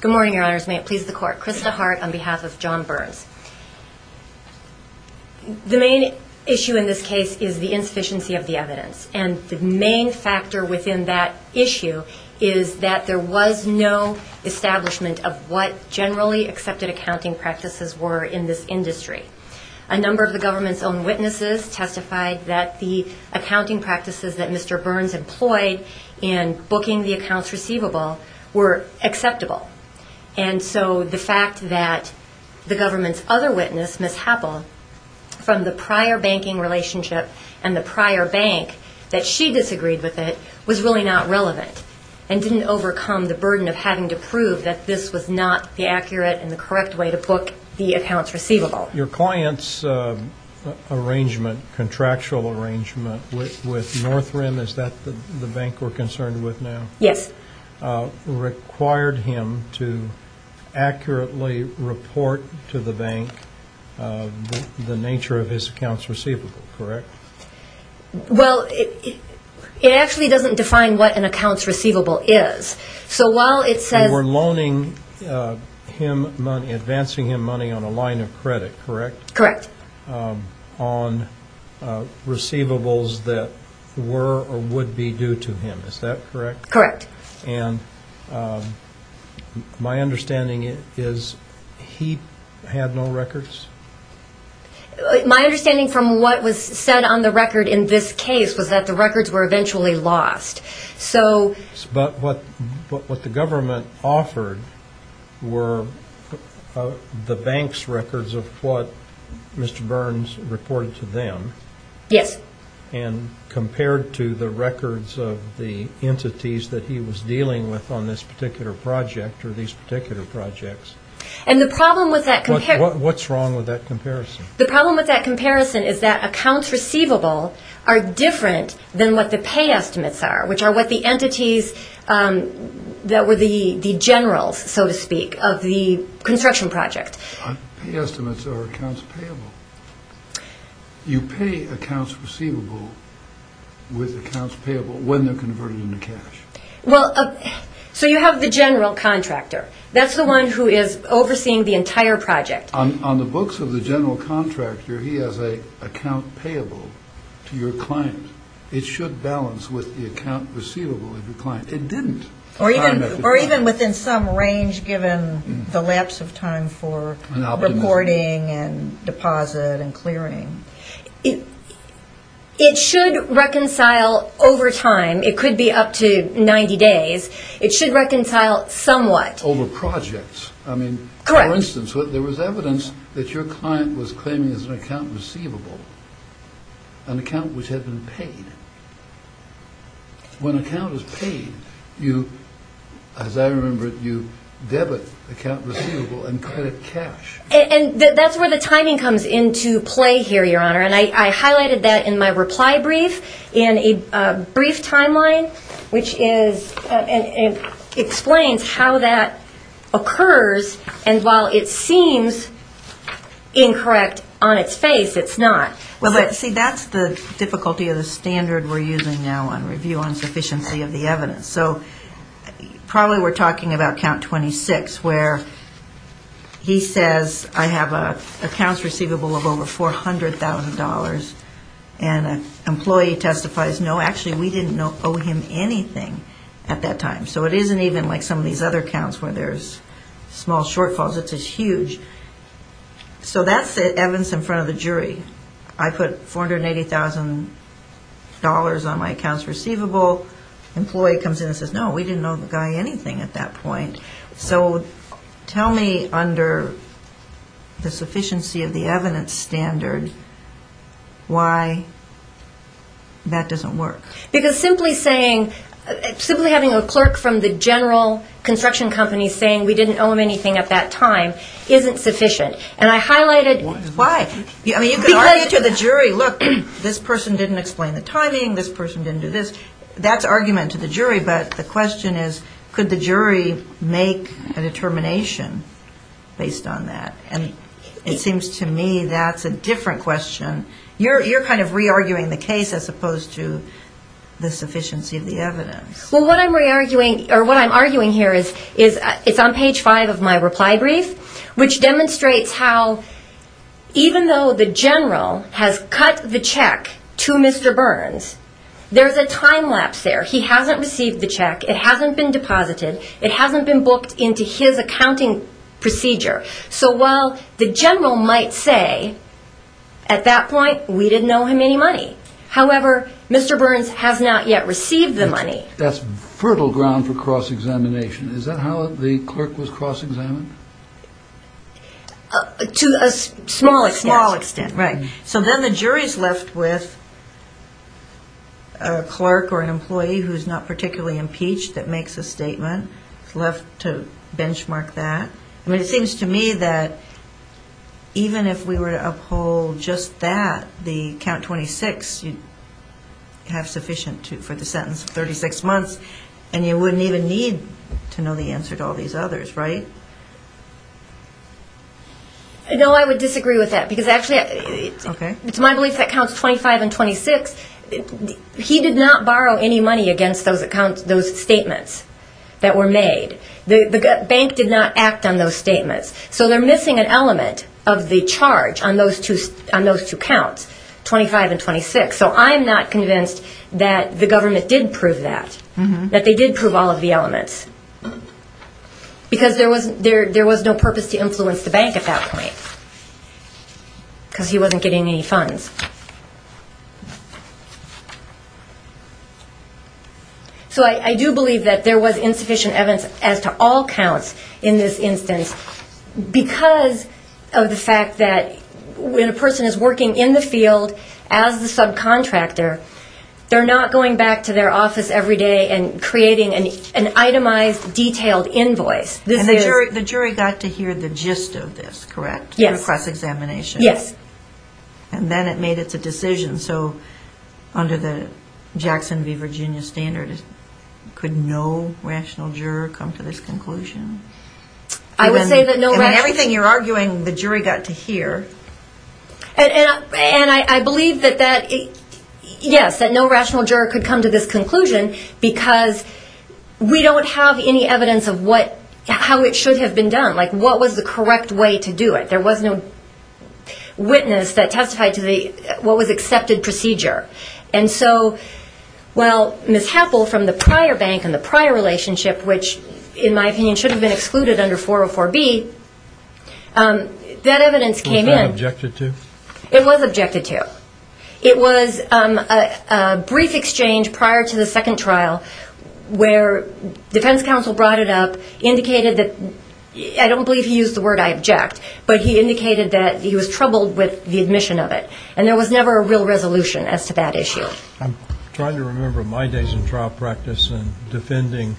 Good morning, your honors. May it please the court. Krista Hart on behalf of John Burns. The main issue in this case is the insufficiency of the evidence. And the main factor within that issue is that there was no establishment of what generally accepted accounting practices were in this industry. A number of the government's own witnesses testified that the accounting And so the fact that the government's other witness, Ms. Happel, from the prior banking relationship and the prior bank, that she disagreed with it, was really not relevant and didn't overcome the burden of having to prove that this was not the accurate and the correct way to book the accounts receivable. Your client's arrangement, contractual arrangement, with North Rim, is that the bank we're concerned with now? Yes. And that required him to accurately report to the bank the nature of his accounts receivable, correct? Well, it actually doesn't define what an accounts receivable is. So while it says You were loaning him money, advancing him money on a line of credit, correct? Correct. On receivables that were or would be due to him, is that correct? Correct. And my understanding is he had no records? My understanding from what was said on the record in this case was that the records were eventually lost. So But what the government offered were the bank's records of what Mr. Burns reported to them. Yes. And compared to the records of the entities that he was dealing with on this particular project or these particular projects. And the problem with that What's wrong with that comparison? The problem with that comparison is that accounts receivable are different than what the pay estimates are, which are what the entities that were the generals, so to speak, of the construction project. Pay estimates are accounts payable. You pay accounts receivable with accounts payable when they're converted into cash. Well, so you have the general contractor. That's the one who is overseeing the entire project. On the books of the general contractor, he has a account payable to your client. It should balance with the account receivable of your client. It didn't. Or even within some range, given the lapse of time for reporting and deposit and clearing. It should reconcile over time. It could be up to 90 days. It should reconcile somewhat. Over projects. Correct. I mean, for instance, there was evidence that your client was claiming as an account receivable an account which had been paid. When an account is paid, you, as I remember it, you debit account receivable and credit cash. And that's where the timing comes into play here, Your Honor. And I highlighted that in my reply brief in a brief timeline, which is and explains how that occurs. And while it seems incorrect on its face, it's not. Well, see, that's the difficulty of the standard we're using now on review on sufficiency of the evidence. So probably we're talking about count 26, where he says, I have an account receivable of over $400,000. And an employee testifies, no, actually we didn't owe him anything at that time. So it isn't even like some of these other counts where there's small shortfalls. It's huge. So that's the evidence in front of the jury. I put $480,000 on my accounts receivable. Employee comes in and says, no, we didn't owe the guy anything at that point. So tell me under the sufficiency of the evidence standard, why that doesn't work. Because simply saying, simply having a clerk from the general construction company saying we didn't owe him anything at that time isn't sufficient. And I highlighted Why? I mean, you could argue to the jury, look, this person didn't explain the timing, this person didn't do this. That's argument to the jury. But the question is, could the jury make a determination based on that? And it seems to me that's a different question. You're kind of re-arguing the case as opposed to the sufficiency of the evidence. Well, what I'm arguing here is, it's on page five of my reply brief, which demonstrates how even though the general has cut the check to Mr. Burns, there's a time lapse there. He hasn't received the check. It hasn't been deposited. It hasn't been booked into his accounting procedure. So while the general might say, at that point, we didn't owe him any money. However, Mr. Burns has not yet received the money. That's fertile ground for cross-examination. Is that how the clerk was cross-examined? To a small extent. Small extent, right. So then the jury's left with a clerk or an employee who's not particularly impeached that makes a statement. It's left to benchmark that. I mean, it have sufficient for the sentence of 36 months, and you wouldn't even need to know the answer to all these others, right? No, I would disagree with that. Because actually, it's my belief that counts 25 and 26. He did not borrow any money against those statements that were made. The bank did not act on those statements. So they're missing an element of the charge on those two counts, 25 and 26. So I'm not convinced that the government did prove that. That they did prove all of the elements. Because there was no purpose to influence the bank at that point. Because he wasn't getting any funds. So I do believe that there was insufficient evidence as to all counts in this field as the subcontractor. They're not going back to their office every day and creating an itemized, detailed invoice. And the jury got to hear the gist of this, correct? Yes. Through cross-examination. Yes. And then it made its decision. So under the Jackson v. Virginia standard, could no rational juror come to this conclusion? I would say that no rational... And I believe that, yes, that no rational juror could come to this conclusion because we don't have any evidence of how it should have been done. Like what was the correct way to do it? There was no witness that testified to what was accepted procedure. And so, well, Ms. Happel from the prior bank and the prior relationship, which in my opinion should have been excluded under 404B, that evidence came in. Was that objected to? It was objected to. It was a brief exchange prior to the second trial where defense counsel brought it up, indicated that... I don't believe he used the word I object, but he indicated that he was troubled with the admission of it. And there was never a real resolution as to that issue. I'm trying to remember my days in trial practice and defending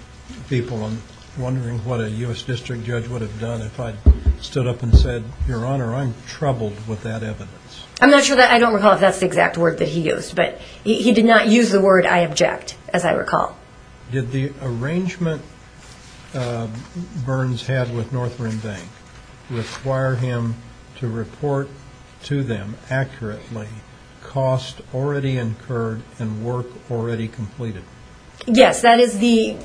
people and wondering what a U.S. district judge would have done if I stood up and said, Your Honor, I'm troubled with that evidence. I'm not sure that I don't recall if that's the exact word that he used, but he did not use the word I object, as I recall. Did the arrangement Burns had with North Rim Bank require him to report to them accurately cost already incurred and work already completed? Yes, that is the...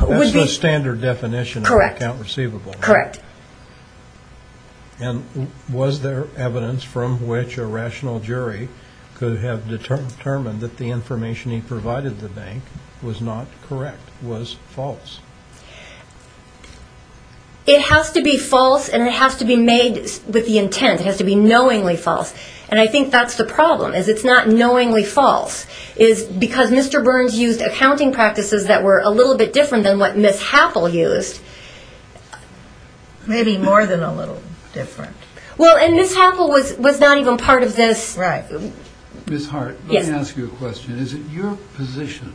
That's the standard definition of an account receivable. Correct. And was there evidence from which a rational jury could have determined that the information he provided the bank was not correct, was false? It has to be false and it has to be made with the intent. It has to be knowingly false. And I think that's the problem, is it's not knowingly false. Because Mr. Burns used accounting practices that were a little bit different than what Ms. Happel used, maybe more than a little different. Well, and Ms. Happel was not even part of this... Right. Ms. Hart, let me ask you a question. Is it your position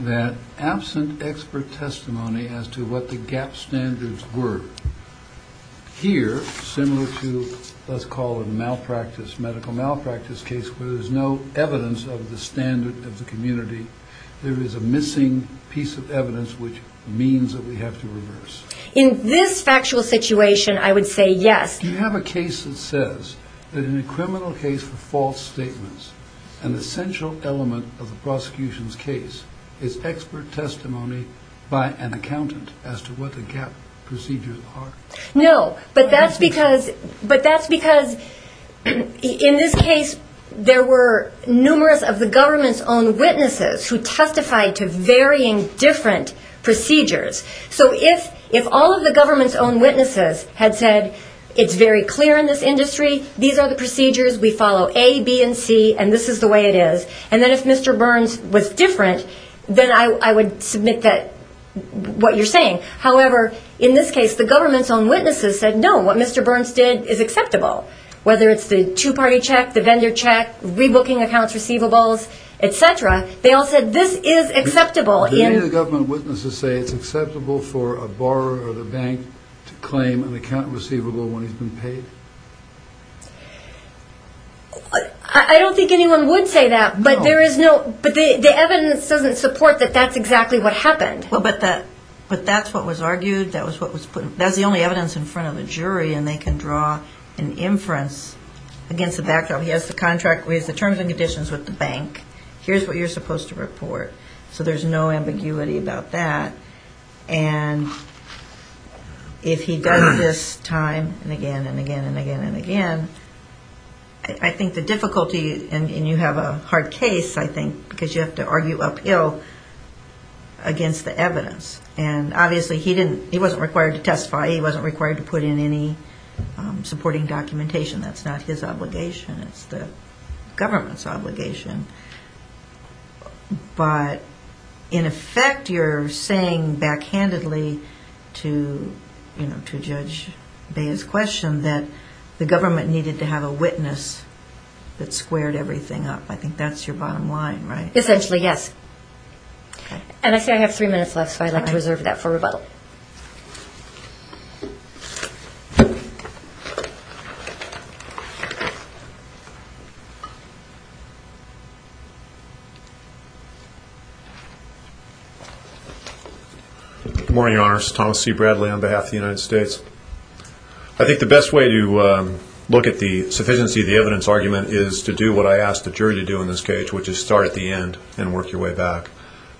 that absent expert testimony as to what the gap standards were, here, similar to let's call it malpractice, medical malpractice case, where there's no evidence of the standard of the community, there is a means that we have to reverse? In this factual situation, I would say yes. Do you have a case that says that in a criminal case for false statements, an essential element of the prosecution's case is expert testimony by an accountant as to what the gap procedures are? No, but that's because in this case there were numerous of the government's own witnesses who testified to varying different procedures. So if all of the government's own witnesses had said, it's very clear in this industry, these are the procedures, we follow A, B, and C, and this is the way it is, and then if Mr. Burns was different, then I would submit that, what you're saying. However, in this case, the government's own witnesses said no, what Mr. Burns did is acceptable. Whether it's the two-party check, the vendor check, rebooking accounts receivables, et cetera, they all said this is acceptable. Do any of the government witnesses say it's acceptable for a borrower or the bank to claim an account receivable when he's been paid? I don't think anyone would say that, but the evidence doesn't support that that's exactly what happened. But that's what was argued. That's the only evidence in front of a jury, and they can draw an inference against the backdrop. He has the terms and conditions with the bank. Here's what you're supposed to report. So there's no ambiguity about that. And if he does this time and again and again and again and again, I think the difficulty, and you have a hard case, I think, because you have to argue uphill against the evidence, and obviously he wasn't required to testify. He wasn't required to put in any supporting documentation. That's not his obligation. It's the government's obligation. But in effect you're saying backhandedly to Judge Bea's question that the government needed to have a witness that squared everything up. I think that's your bottom line, right? Essentially, yes. And I say I have three minutes left, so I'd like to reserve that for rebuttal. Good morning, Your Honor. This is Thomas C. Bradley on behalf of the United States. I think the best way to look at the sufficiency of the evidence argument is to do what I asked the jury to do in this case, which is start at the end and work your way back,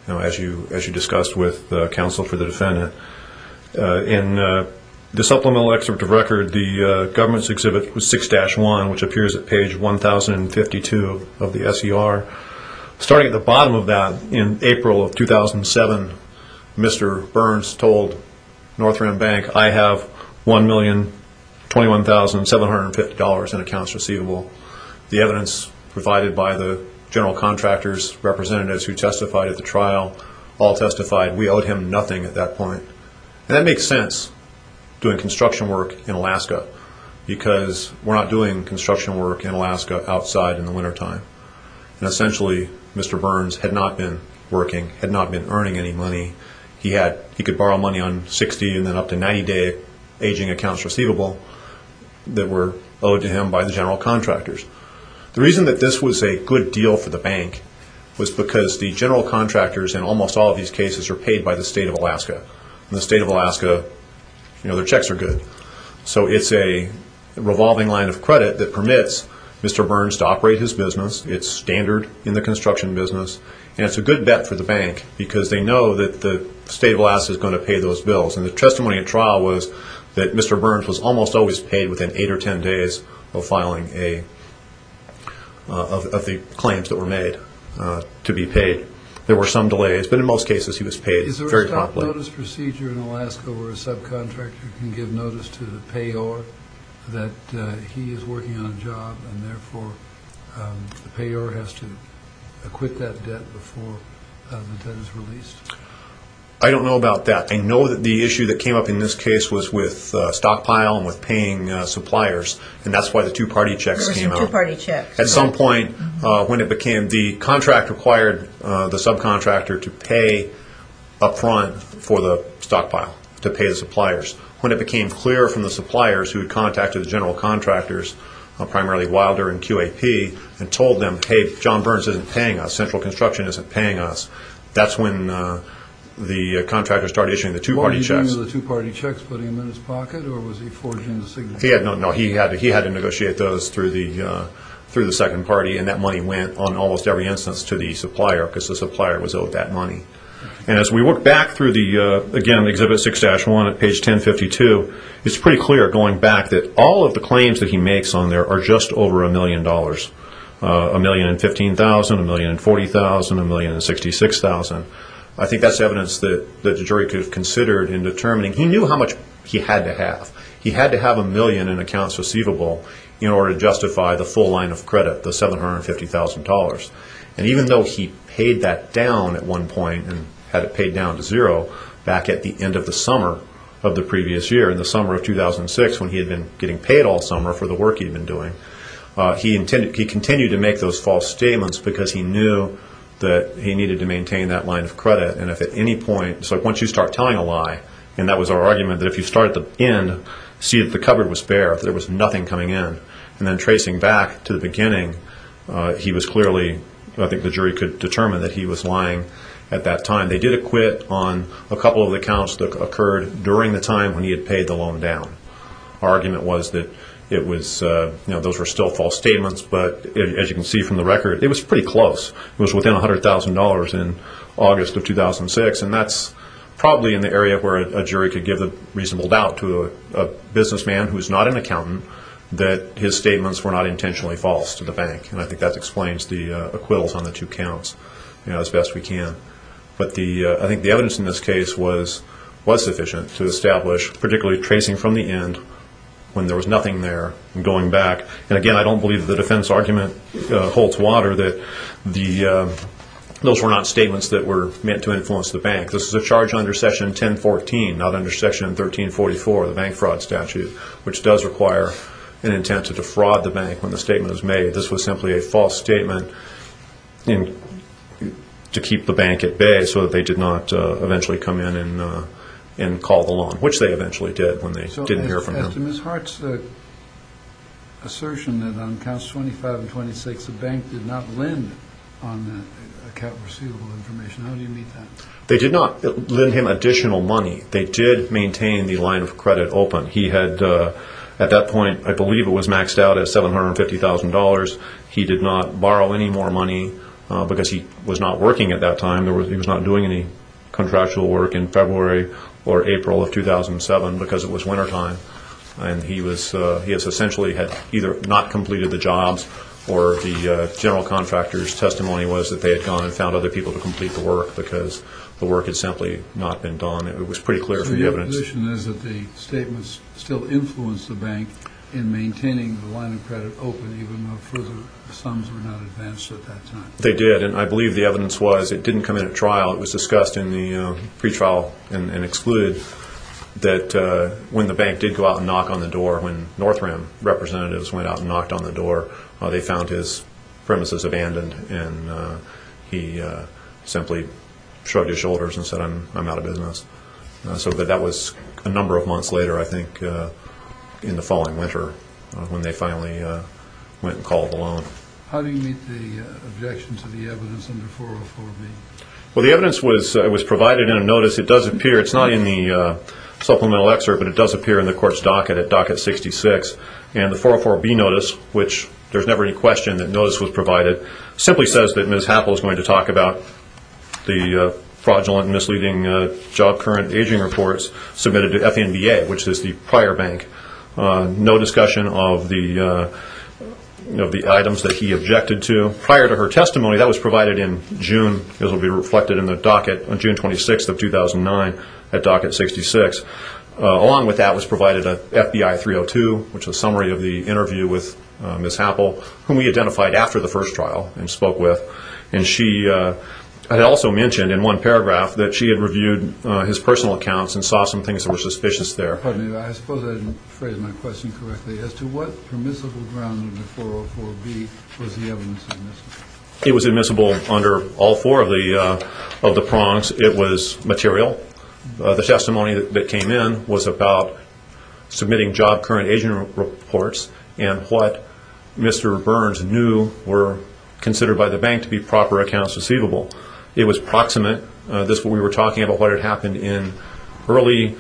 as you discussed with counsel for the defendant. In the supplemental excerpt of record, the government's exhibit was 6-1, which appears at page 1,052 of the SER. Starting at the bottom of that, in April of 2007, Mr. Burns told North Rim Bank, I have $1,021,750 in accounts receivable. The evidence provided by the general contractor's representatives who testified at the trial all testified. We owed him nothing at that point. And that makes sense, doing construction work in Alaska, because we're not doing construction work in Alaska outside in the wintertime. And essentially, Mr. Burns had not been working, had not been earning any money. He could borrow money on 60 and then up to 90-day aging accounts receivable that were owed to him by the general contractors. The reason that this was a good deal for the bank was because the general contractors in almost all of these cases are paid by the state of Alaska. In the state of Alaska, their checks are good. So it's a revolving line of credit that permits Mr. Burns to operate his business. It's standard in the construction business. And it's a good bet for the bank, because they know that the state of Alaska is going to pay those bills. And the testimony at trial was that Mr. Burns was almost always paid within 8 or 10 days of the claims that were made to be paid. There were some delays, but in most cases he was paid very properly. Is there a stop-notice procedure in Alaska where a subcontractor can give notice to the payor that he is working on a job and therefore the payor has to acquit that debt before the debt is released? I don't know about that. I know that the issue that came up in this case was with stockpile and there was a problem with paying suppliers, and that's why the two-party checks came out. There were some two-party checks. At some point, the contract required the subcontractor to pay up front for the stockpile, to pay the suppliers. When it became clear from the suppliers who had contacted the general contractors, primarily Wilder and QAP, and told them, hey, John Burns isn't paying us, Central Construction isn't paying us, that's when the contractors started issuing the two-party checks. Did the contractors put them in his pocket, or was he forging the signature? No, he had to negotiate those through the second party, and that money went on almost every instance to the supplier because the supplier was owed that money. As we work back through, again, Exhibit 6-1 at page 1052, it's pretty clear going back that all of the claims that he makes on there are just over a million dollars, $1,015,000, $1,040,000, $1,066,000. I think that's evidence that the jury could have considered in determining he knew how much he had to have. He had to have a million in accounts receivable in order to justify the full line of credit, the $750,000. And even though he paid that down at one point and had it paid down to zero back at the end of the summer of the previous year, in the summer of 2006 when he had been getting paid all summer for the work he had been doing, he continued to make those false statements because he knew that he needed to maintain that line of credit. Once you start telling a lie, and that was our argument, that if you start at the end, see that the cupboard was bare, that there was nothing coming in, and then tracing back to the beginning, he was clearly, I think the jury could determine, that he was lying at that time. They did acquit on a couple of the accounts that occurred during the time when he had paid the loan down. Our argument was that those were still false statements, but as you can see from the record, it was pretty close. It was within $100,000 in August of 2006, and that's probably in the area where a jury could give the reasonable doubt to a businessman who is not an accountant that his statements were not intentionally false to the bank. And I think that explains the acquittals on the two accounts as best we can. But I think the evidence in this case was sufficient to establish, particularly tracing from the end when there was nothing there and going back. And again, I don't believe the defense argument holds water that those were not statements that were meant to influence the bank. This is a charge under section 1014, not under section 1344, the bank fraud statute, which does require an intent to defraud the bank when the statement is made. This was simply a false statement to keep the bank at bay so that they did not eventually come in and call the loan, which they eventually did when they didn't hear from him. So to Ms. Hart's assertion that on accounts 25 and 26 the bank did not lend on the receivable information, how do you meet that? They did not lend him additional money. They did maintain the line of credit open. He had, at that point, I believe it was maxed out at $750,000. He did not borrow any more money because he was not working at that time. He was not doing any contractual work in February or April of 2007 because it was wintertime. He essentially had either not completed the jobs or the general contractor's testimony was that they had gone and found other people to complete the work because the work had simply not been done. It was pretty clear from the evidence. So your position is that the statements still influenced the bank in maintaining the line of credit open even though the sums were not advanced at that time? They did, and I believe the evidence was it didn't come in at trial. It was discussed in the pretrial and excluded that when the bank did go out and knock on the door, when North Rim representatives went out and knocked on the door, they found his premises abandoned, and he simply shrugged his shoulders and said, I'm out of business. So that was a number of months later, I think, in the following winter when they finally went and called the loan. How do you meet the objection to the evidence under 404B? Well, the evidence was provided in a notice. It does appear, it's not in the supplemental excerpt, but it does appear in the court's docket at docket 66. And the 404B notice, which there's never any question that notice was provided, simply says that Ms. Happel is going to talk about the fraudulent, misleading job current, aging reports submitted to FNBA, which is the prior bank. No discussion of the items that he objected to. Prior to her testimony, that was provided in June, as will be reflected in the docket on June 26th of 2009 at docket 66. Along with that was provided an FBI 302, which is a summary of the interview with Ms. Happel, whom we identified after the first trial and spoke with. And she had also mentioned in one paragraph that she had reviewed his personal accounts and saw some things that were suspicious there. Pardon me, but I suppose I didn't phrase my question correctly. As to what permissible ground in the 404B was the evidence admissible? It was admissible under all four of the prongs. It was material. The testimony that came in was about submitting job current aging reports and what Mr. Burns knew were considered by the bank to be proper accounts receivable. It was proximate. We were talking about what had happened in early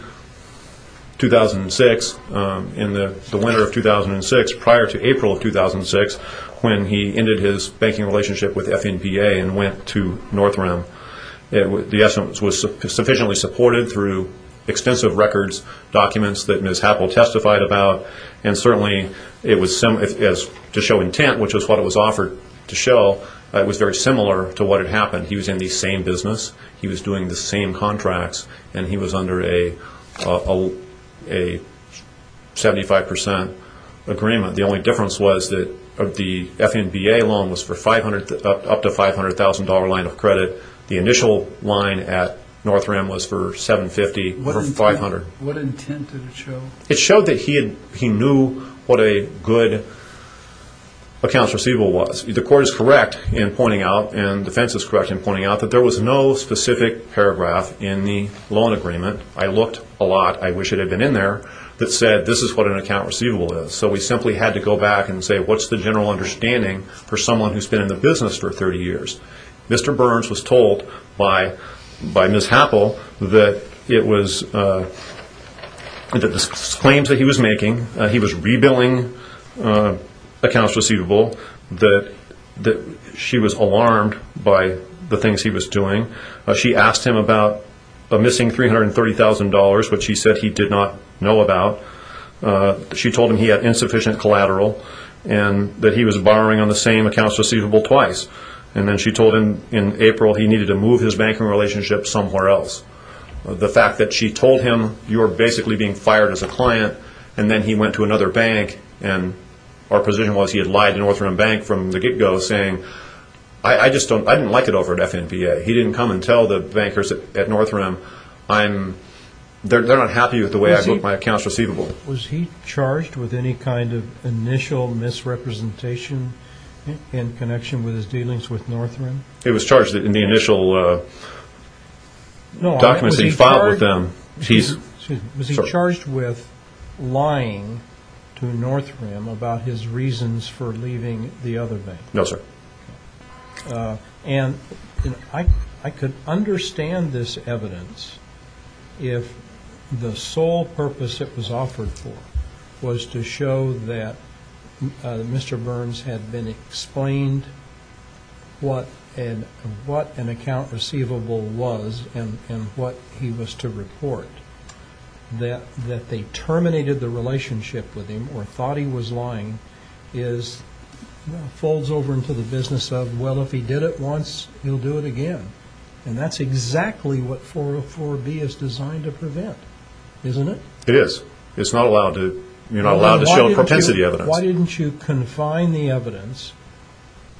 2006, in the winter of 2006, prior to April of 2006 when he ended his banking relationship with FNBA and went to North Rim. The evidence was sufficiently supported through extensive records, documents that Ms. Happel testified about, and certainly to show intent, which was what it was offered to show, it was very similar to what had happened. He was in the same business, he was doing the same contracts, and he was under a 75% agreement. The only difference was that the FNBA loan was for up to $500,000 line of credit. The initial line at North Rim was for $750,000, for $500,000. What intent did it show? It showed that he knew what a good accounts receivable was. The court is correct in pointing out, and defense is correct in pointing out, that there was no specific paragraph in the loan agreement. I looked a lot, I wish it had been in there, that said this is what an account receivable is. So we simply had to go back and say, what's the general understanding for someone who's been in the business for 30 years? Mr. Burns was told by Ms. Happel that the claims that he was making, he was rebilling accounts receivable, that she was alarmed by the things he was doing. She asked him about a missing $330,000, which he said he did not know about. She told him he had insufficient collateral, and that he was borrowing on the same accounts receivable twice. And then she told him in April he needed to move his banking relationship somewhere else. The fact that she told him, you're basically being fired as a client, and then he went to another bank, and our position was he had lied to North Rim Bank from the get-go, saying, I just don't, I didn't like it over at FNPA. He didn't come and tell the bankers at North Rim, I'm, they're not happy with the way I look at my accounts receivable. Was he charged with any kind of initial misrepresentation in connection with his dealings with North Rim? It was charged in the initial documents he filed with them. Was he charged with lying to North Rim about his reasons for leaving the other bank? No, sir. And I could understand this evidence if the sole purpose it was offered for was to show that Mr. Burns had been explained what an account receivable was and what he was to report. That they terminated the relationship with him or thought he was lying is, folds over into the business of, well, if he did it once, he'll do it again. And that's exactly what 404B is designed to prevent, isn't it? It is. It's not allowed to, you're not allowed to show propensity evidence. Why didn't you confine the evidence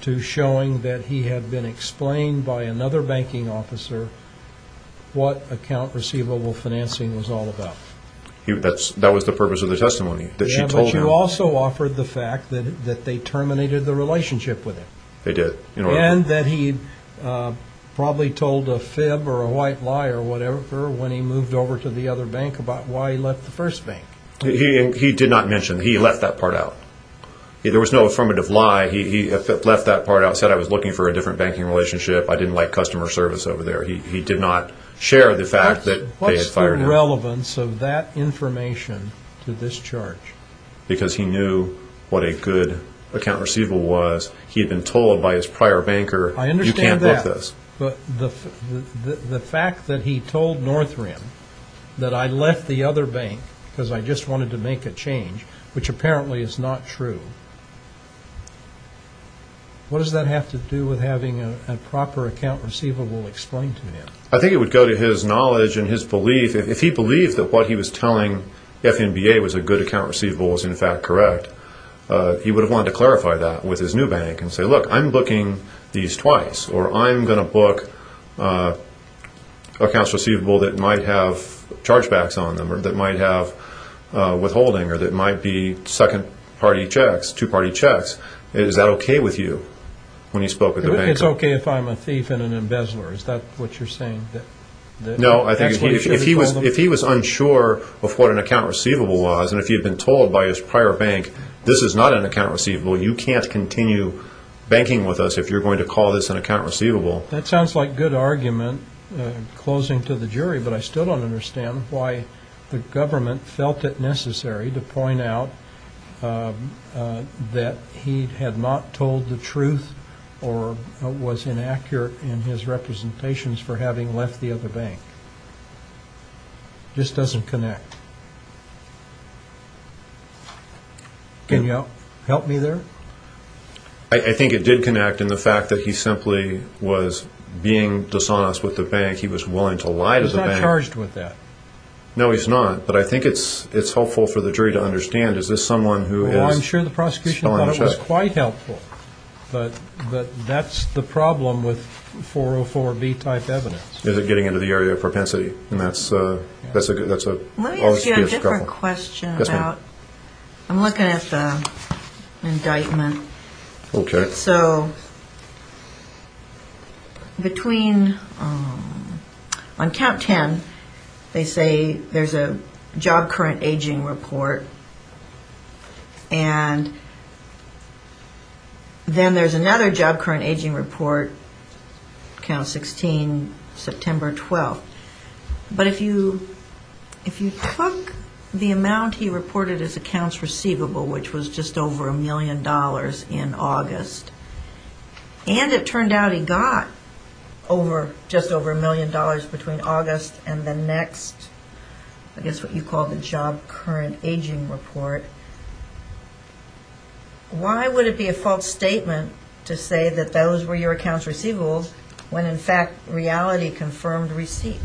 to showing that he had been explained by another banking officer what account receivable financing was all about? That was the purpose of the testimony, that she told him. Yeah, but you also offered the fact that they terminated the relationship with him. They did. And that he probably told a fib or a white lie or whatever when he moved over to the other bank about why he left the first bank. He did not mention. He left that part out. There was no affirmative lie. He left that part out. He said, I was looking for a different banking relationship. I didn't like customer service over there. He did not share the fact that they had fired him. What is the relevance of that information to this charge? Because he knew what a good account receivable was. He had been told by his prior banker, you can't book this. But the fact that he told Northrim that I left the other bank because I just wanted to make a change, which apparently is not true, what does that have to do with having a proper account receivable explained to him? I think it would go to his knowledge and his belief. If he believed that what he was telling FNBA was a good account receivable was in fact correct, he would have wanted to clarify that with his new bank and say, look, I'm booking these twice or I'm going to book accounts receivable that might have chargebacks on them or that might have withholding or that might be second-party checks, two-party checks. Is that okay with you? It's okay if I'm a thief and an embezzler. Is that what you're saying? No, I think if he was unsure of what an account receivable was and if he had been told by his prior bank, this is not an account receivable, you can't continue banking with us if you're going to call this an account receivable. That sounds like a good argument, closing to the jury, but I still don't understand why the government felt it necessary to point out that he had not told the truth or was inaccurate in his representations for having left the other bank. It just doesn't connect. Can you help me there? I think it did connect in the fact that he simply was being dishonest with the bank. He was willing to lie to the bank. He's not charged with that. No, he's not, but I think it's helpful for the jury to understand, is this someone who is… Well, I'm sure the prosecution thought it was quite helpful, but that's the problem with 404B type evidence. Is it getting into the area of propensity? Let me ask you a different question about… Yes, ma'am. I'm looking at the indictment. Okay. So, between… On count 10, they say there's a job current aging report, and then there's another job current aging report, count 16, September 12th. But if you took the amount he reported as accounts receivable, which was just over a million dollars in August, and it turned out he got just over a million dollars between August and the next, I guess what you call the job current aging report, why would it be a false statement to say that those were your accounts receivables when, in fact, reality confirmed receipt?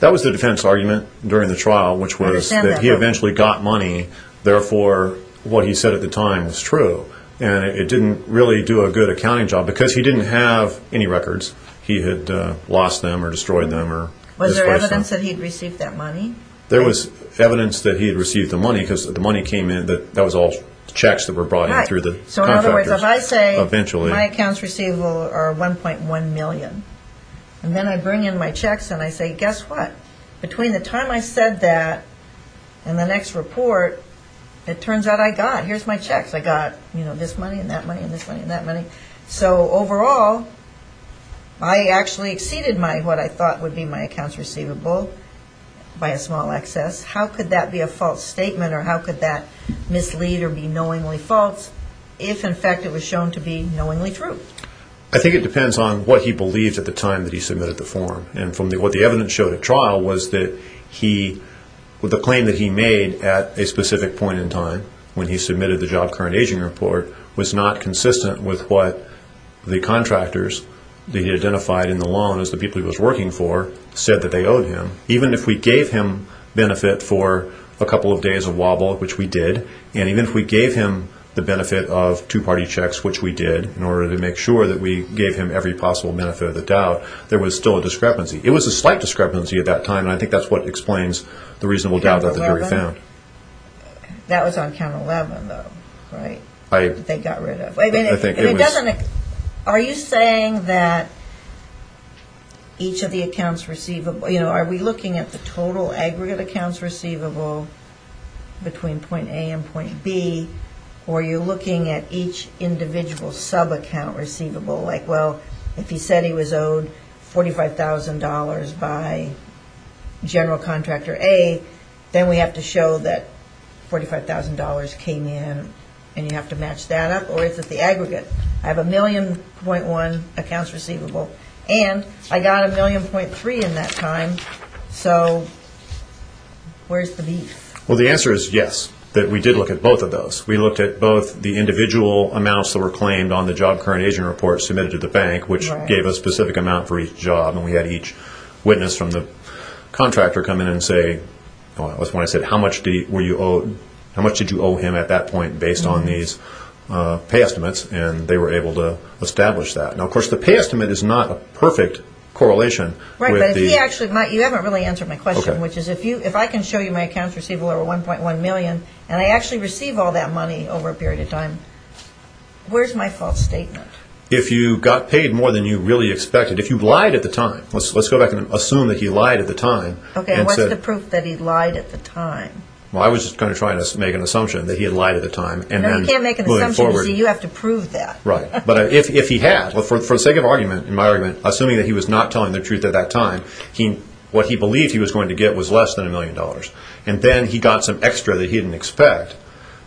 That was the defense argument during the trial, which was that he eventually got money, therefore what he said at the time was true, and it didn't really do a good accounting job because he didn't have any records. He had lost them or destroyed them or… Was there evidence that he had received that money? There was evidence that he had received the money because the money came in. That was all checks that were brought in through the contractors. So, in other words, if I say my accounts receivable are 1.1 million, and then I bring in my checks and I say, guess what? Between the time I said that and the next report, it turns out I got. Here's my checks. I got this money and that money and this money and that money. So, overall, I actually exceeded what I thought would be my accounts receivable by a small excess. How could that be a false statement or how could that mislead or be knowingly false if, in fact, it was shown to be knowingly true? I think it depends on what he believed at the time that he submitted the form, and what the evidence showed at trial was that the claim that he made at a specific point in time when he submitted the Job Current Aging Report was not consistent with what the contractors that he identified in the loan as the people he was working for said that they owed him. Even if we gave him benefit for a couple of days of wobble, which we did, and even if we gave him the benefit of two-party checks, which we did, in order to make sure that we gave him every possible benefit of the doubt, there was still a discrepancy. It was a slight discrepancy at that time, and I think that's what explains the reasonable doubt that the jury found. That was on count 11, though, right? I think it was. Are you saying that each of the accounts receivable, are we looking at the total aggregate accounts receivable between point A and point B, or are you looking at each individual sub-account receivable? Like, well, if he said he was owed $45,000 by General Contractor A, then we have to show that $45,000 came in, and you have to match that up, or is it the aggregate? I have a million point one accounts receivable, and I got a million point three in that time, so where's the beef? Well, the answer is yes, that we did look at both of those. We looked at both the individual amounts that were claimed on the Job Current Aging Report submitted to the bank, which gave a specific amount for each job, and we had each witness from the contractor come in and say, that's when I said, how much did you owe him at that point based on these pay estimates, and they were able to establish that. Now, of course, the pay estimate is not a perfect correlation. Right, but you haven't really answered my question, which is if I can show you my accounts receivable over $1.1 million, and I actually receive all that money over a period of time, where's my false statement? If you got paid more than you really expected, if you lied at the time, let's go back and assume that he lied at the time. Okay, what's the proof that he lied at the time? Well, I was just kind of trying to make an assumption that he had lied at the time. No, you can't make an assumption, you see, you have to prove that. Right, but if he had, for the sake of argument, in my argument, assuming that he was not telling the truth at that time, what he believed he was going to get was less than $1 million, and then he got some extra that he didn't expect.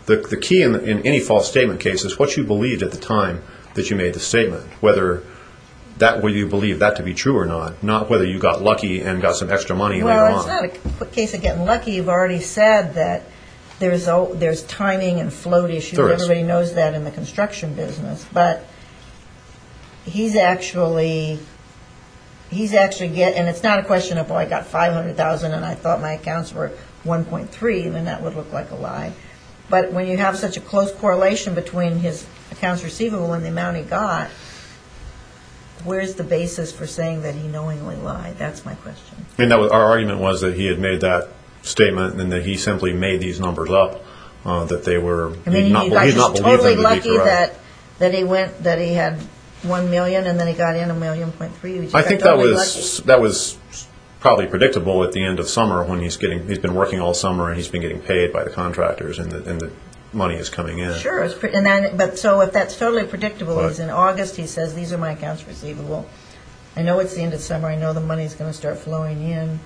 The key in any false statement case is what you believed at the time that you made the statement, whether you believe that to be true or not, not whether you got lucky and got some extra money later on. Well, it's not a quick case of getting lucky. You've already said that there's timing and float issues. Everybody knows that in the construction business. But he's actually getting, and it's not a question of, well, I got $500,000 and I thought my accounts were $1.3, then that would look like a lie. But when you have such a close correlation between his accounts receivable and the amount he got, where's the basis for saying that he knowingly lied? That's my question. And our argument was that he had made that statement, and that he simply made these numbers up, that they were, he did not believe them to be correct. I mean, he got just totally lucky that he went, that he had $1 million, and then he got in $1.3 million. I think that was probably predictable at the end of summer when he's getting, he's been working all summer, and he's been getting paid by the contractors, and the money is coming in. Sure. But so if that's totally predictable, he's in August, he says, these are my accounts receivable. I know it's the end of summer. I know the money is going to start flowing in.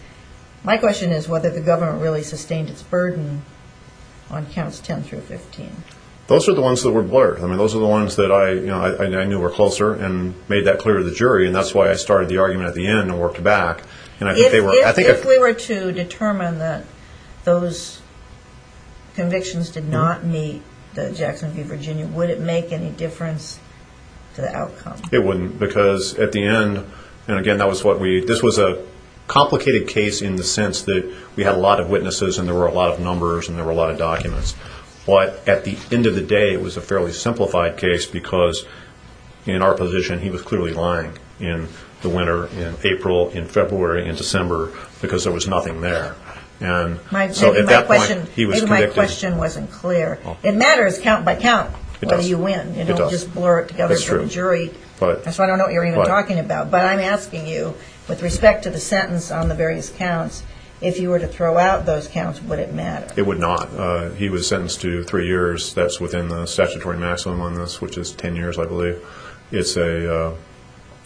My question is whether the government really sustained its burden on counts 10 through 15. Those are the ones that were blurred. I mean, those are the ones that I knew were closer and made that clear to the jury, and that's why I started the argument at the end and worked back. If we were to determine that those convictions did not meet the Jackson V. Virginia, would it make any difference to the outcome? It wouldn't because at the end, and again, that was what we, this was a complicated case in the sense that we had a lot of witnesses, and there were a lot of numbers, and there were a lot of documents. But at the end of the day, it was a fairly simplified case because in our position, he was clearly lying in the winter, in April, in February, in December, because there was nothing there. So at that point, he was convicted. Maybe my question wasn't clear. It matters count by count whether you win. It does. You don't just blur it together for the jury. That's true. That's why I don't know what you're even talking about. But I'm asking you, with respect to the sentence on the various counts, if you were to throw out those counts, would it matter? It would not. That's within the statutory maximum on this, which is 10 years, I believe. So it's a,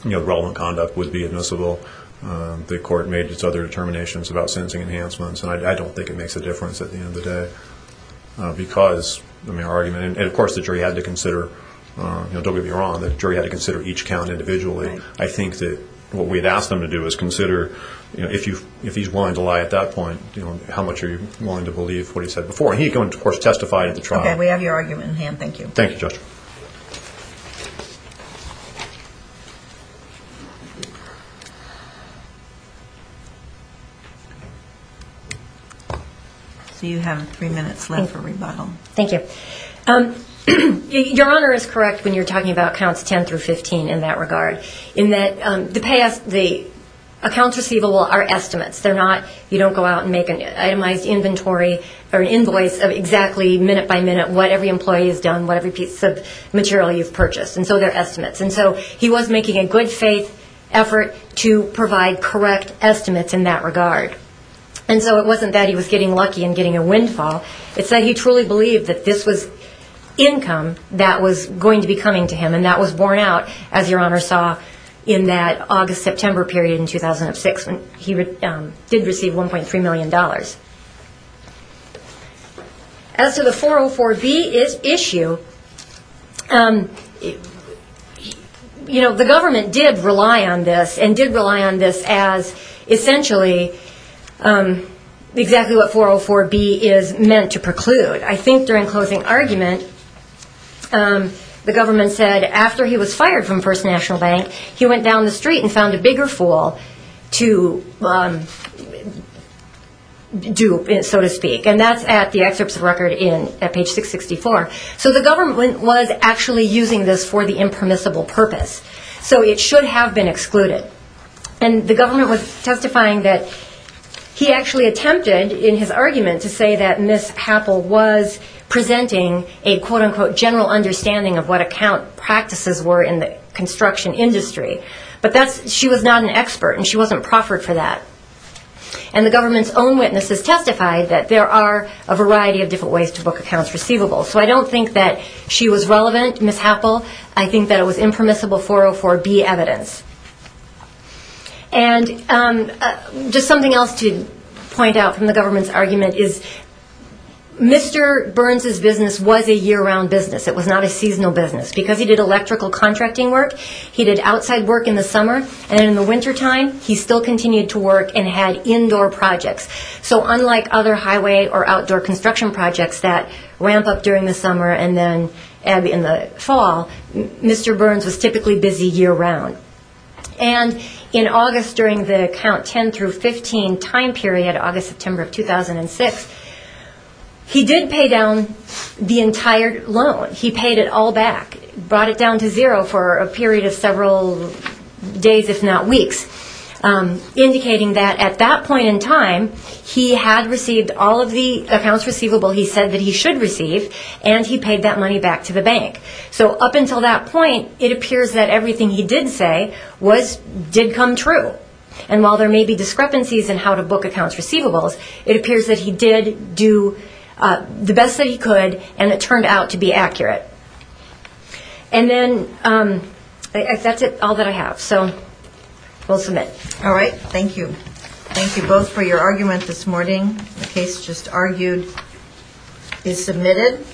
you know, relevant conduct would be admissible. The court made its other determinations about sentencing enhancements, and I don't think it makes a difference at the end of the day because, I mean, our argument, and of course the jury had to consider, don't get me wrong, the jury had to consider each count individually. I think that what we'd ask them to do is consider, you know, if he's willing to lie at that point, you know, how much are you willing to believe what he said before? And he, of course, testified at the trial. Okay. We have your argument in hand. Thank you. Thank you, Judge. So you have three minutes left for rebuttal. Thank you. Your Honor is correct when you're talking about counts 10 through 15 in that regard, in that the accounts receivable are estimates. They're not, you don't go out and make an itemized inventory or an invoice of exactly minute by minute what every employee has done, what every piece of material you've purchased. And so they're estimates. And so he was making a good faith effort to provide correct estimates in that regard. And so it wasn't that he was getting lucky and getting a windfall. It's that he truly believed that this was income that was going to be coming to him, and that was borne out, as Your Honor saw, in that August-September period in 2006 when he did receive $1.3 million. As to the 404B issue, you know, the government did rely on this and did rely on this as essentially exactly what 404B is meant to preclude. I think during closing argument, the government said after he was fired from First National Bank, he went down the street and found a bigger fool to dupe, so to speak. And that's at the excerpts of record at page 664. So the government was actually using this for the impermissible purpose. So it should have been excluded. And the government was testifying that he actually attempted in his argument of what account practices were in the construction industry. But she was not an expert, and she wasn't proffered for that. And the government's own witnesses testified that there are a variety of different ways to book accounts receivable. So I don't think that she was relevant, Ms. Happel. I think that it was impermissible 404B evidence. And just something else to point out from the government's argument is Mr. Burns' business was a year-round business. It was not a seasonal business. Because he did electrical contracting work, he did outside work in the summer. And in the wintertime, he still continued to work and had indoor projects. So unlike other highway or outdoor construction projects that ramp up during the summer and then in the fall, Mr. Burns was typically busy year-round. And in August, during the count 10 through 15 time period, August, September of 2006, he did pay down the entire loan. He paid it all back, brought it down to zero for a period of several days, if not weeks, indicating that at that point in time, he had received all of the accounts receivable he said that he should receive, and he paid that money back to the bank. So up until that point, it appears that everything he did say did come true. And while there may be discrepancies in how to book accounts receivables, it appears that he did do the best that he could, and it turned out to be accurate. And then that's all that I have. So we'll submit. All right. Thank you. Thank you both for your argument this morning. The case just argued is submitted.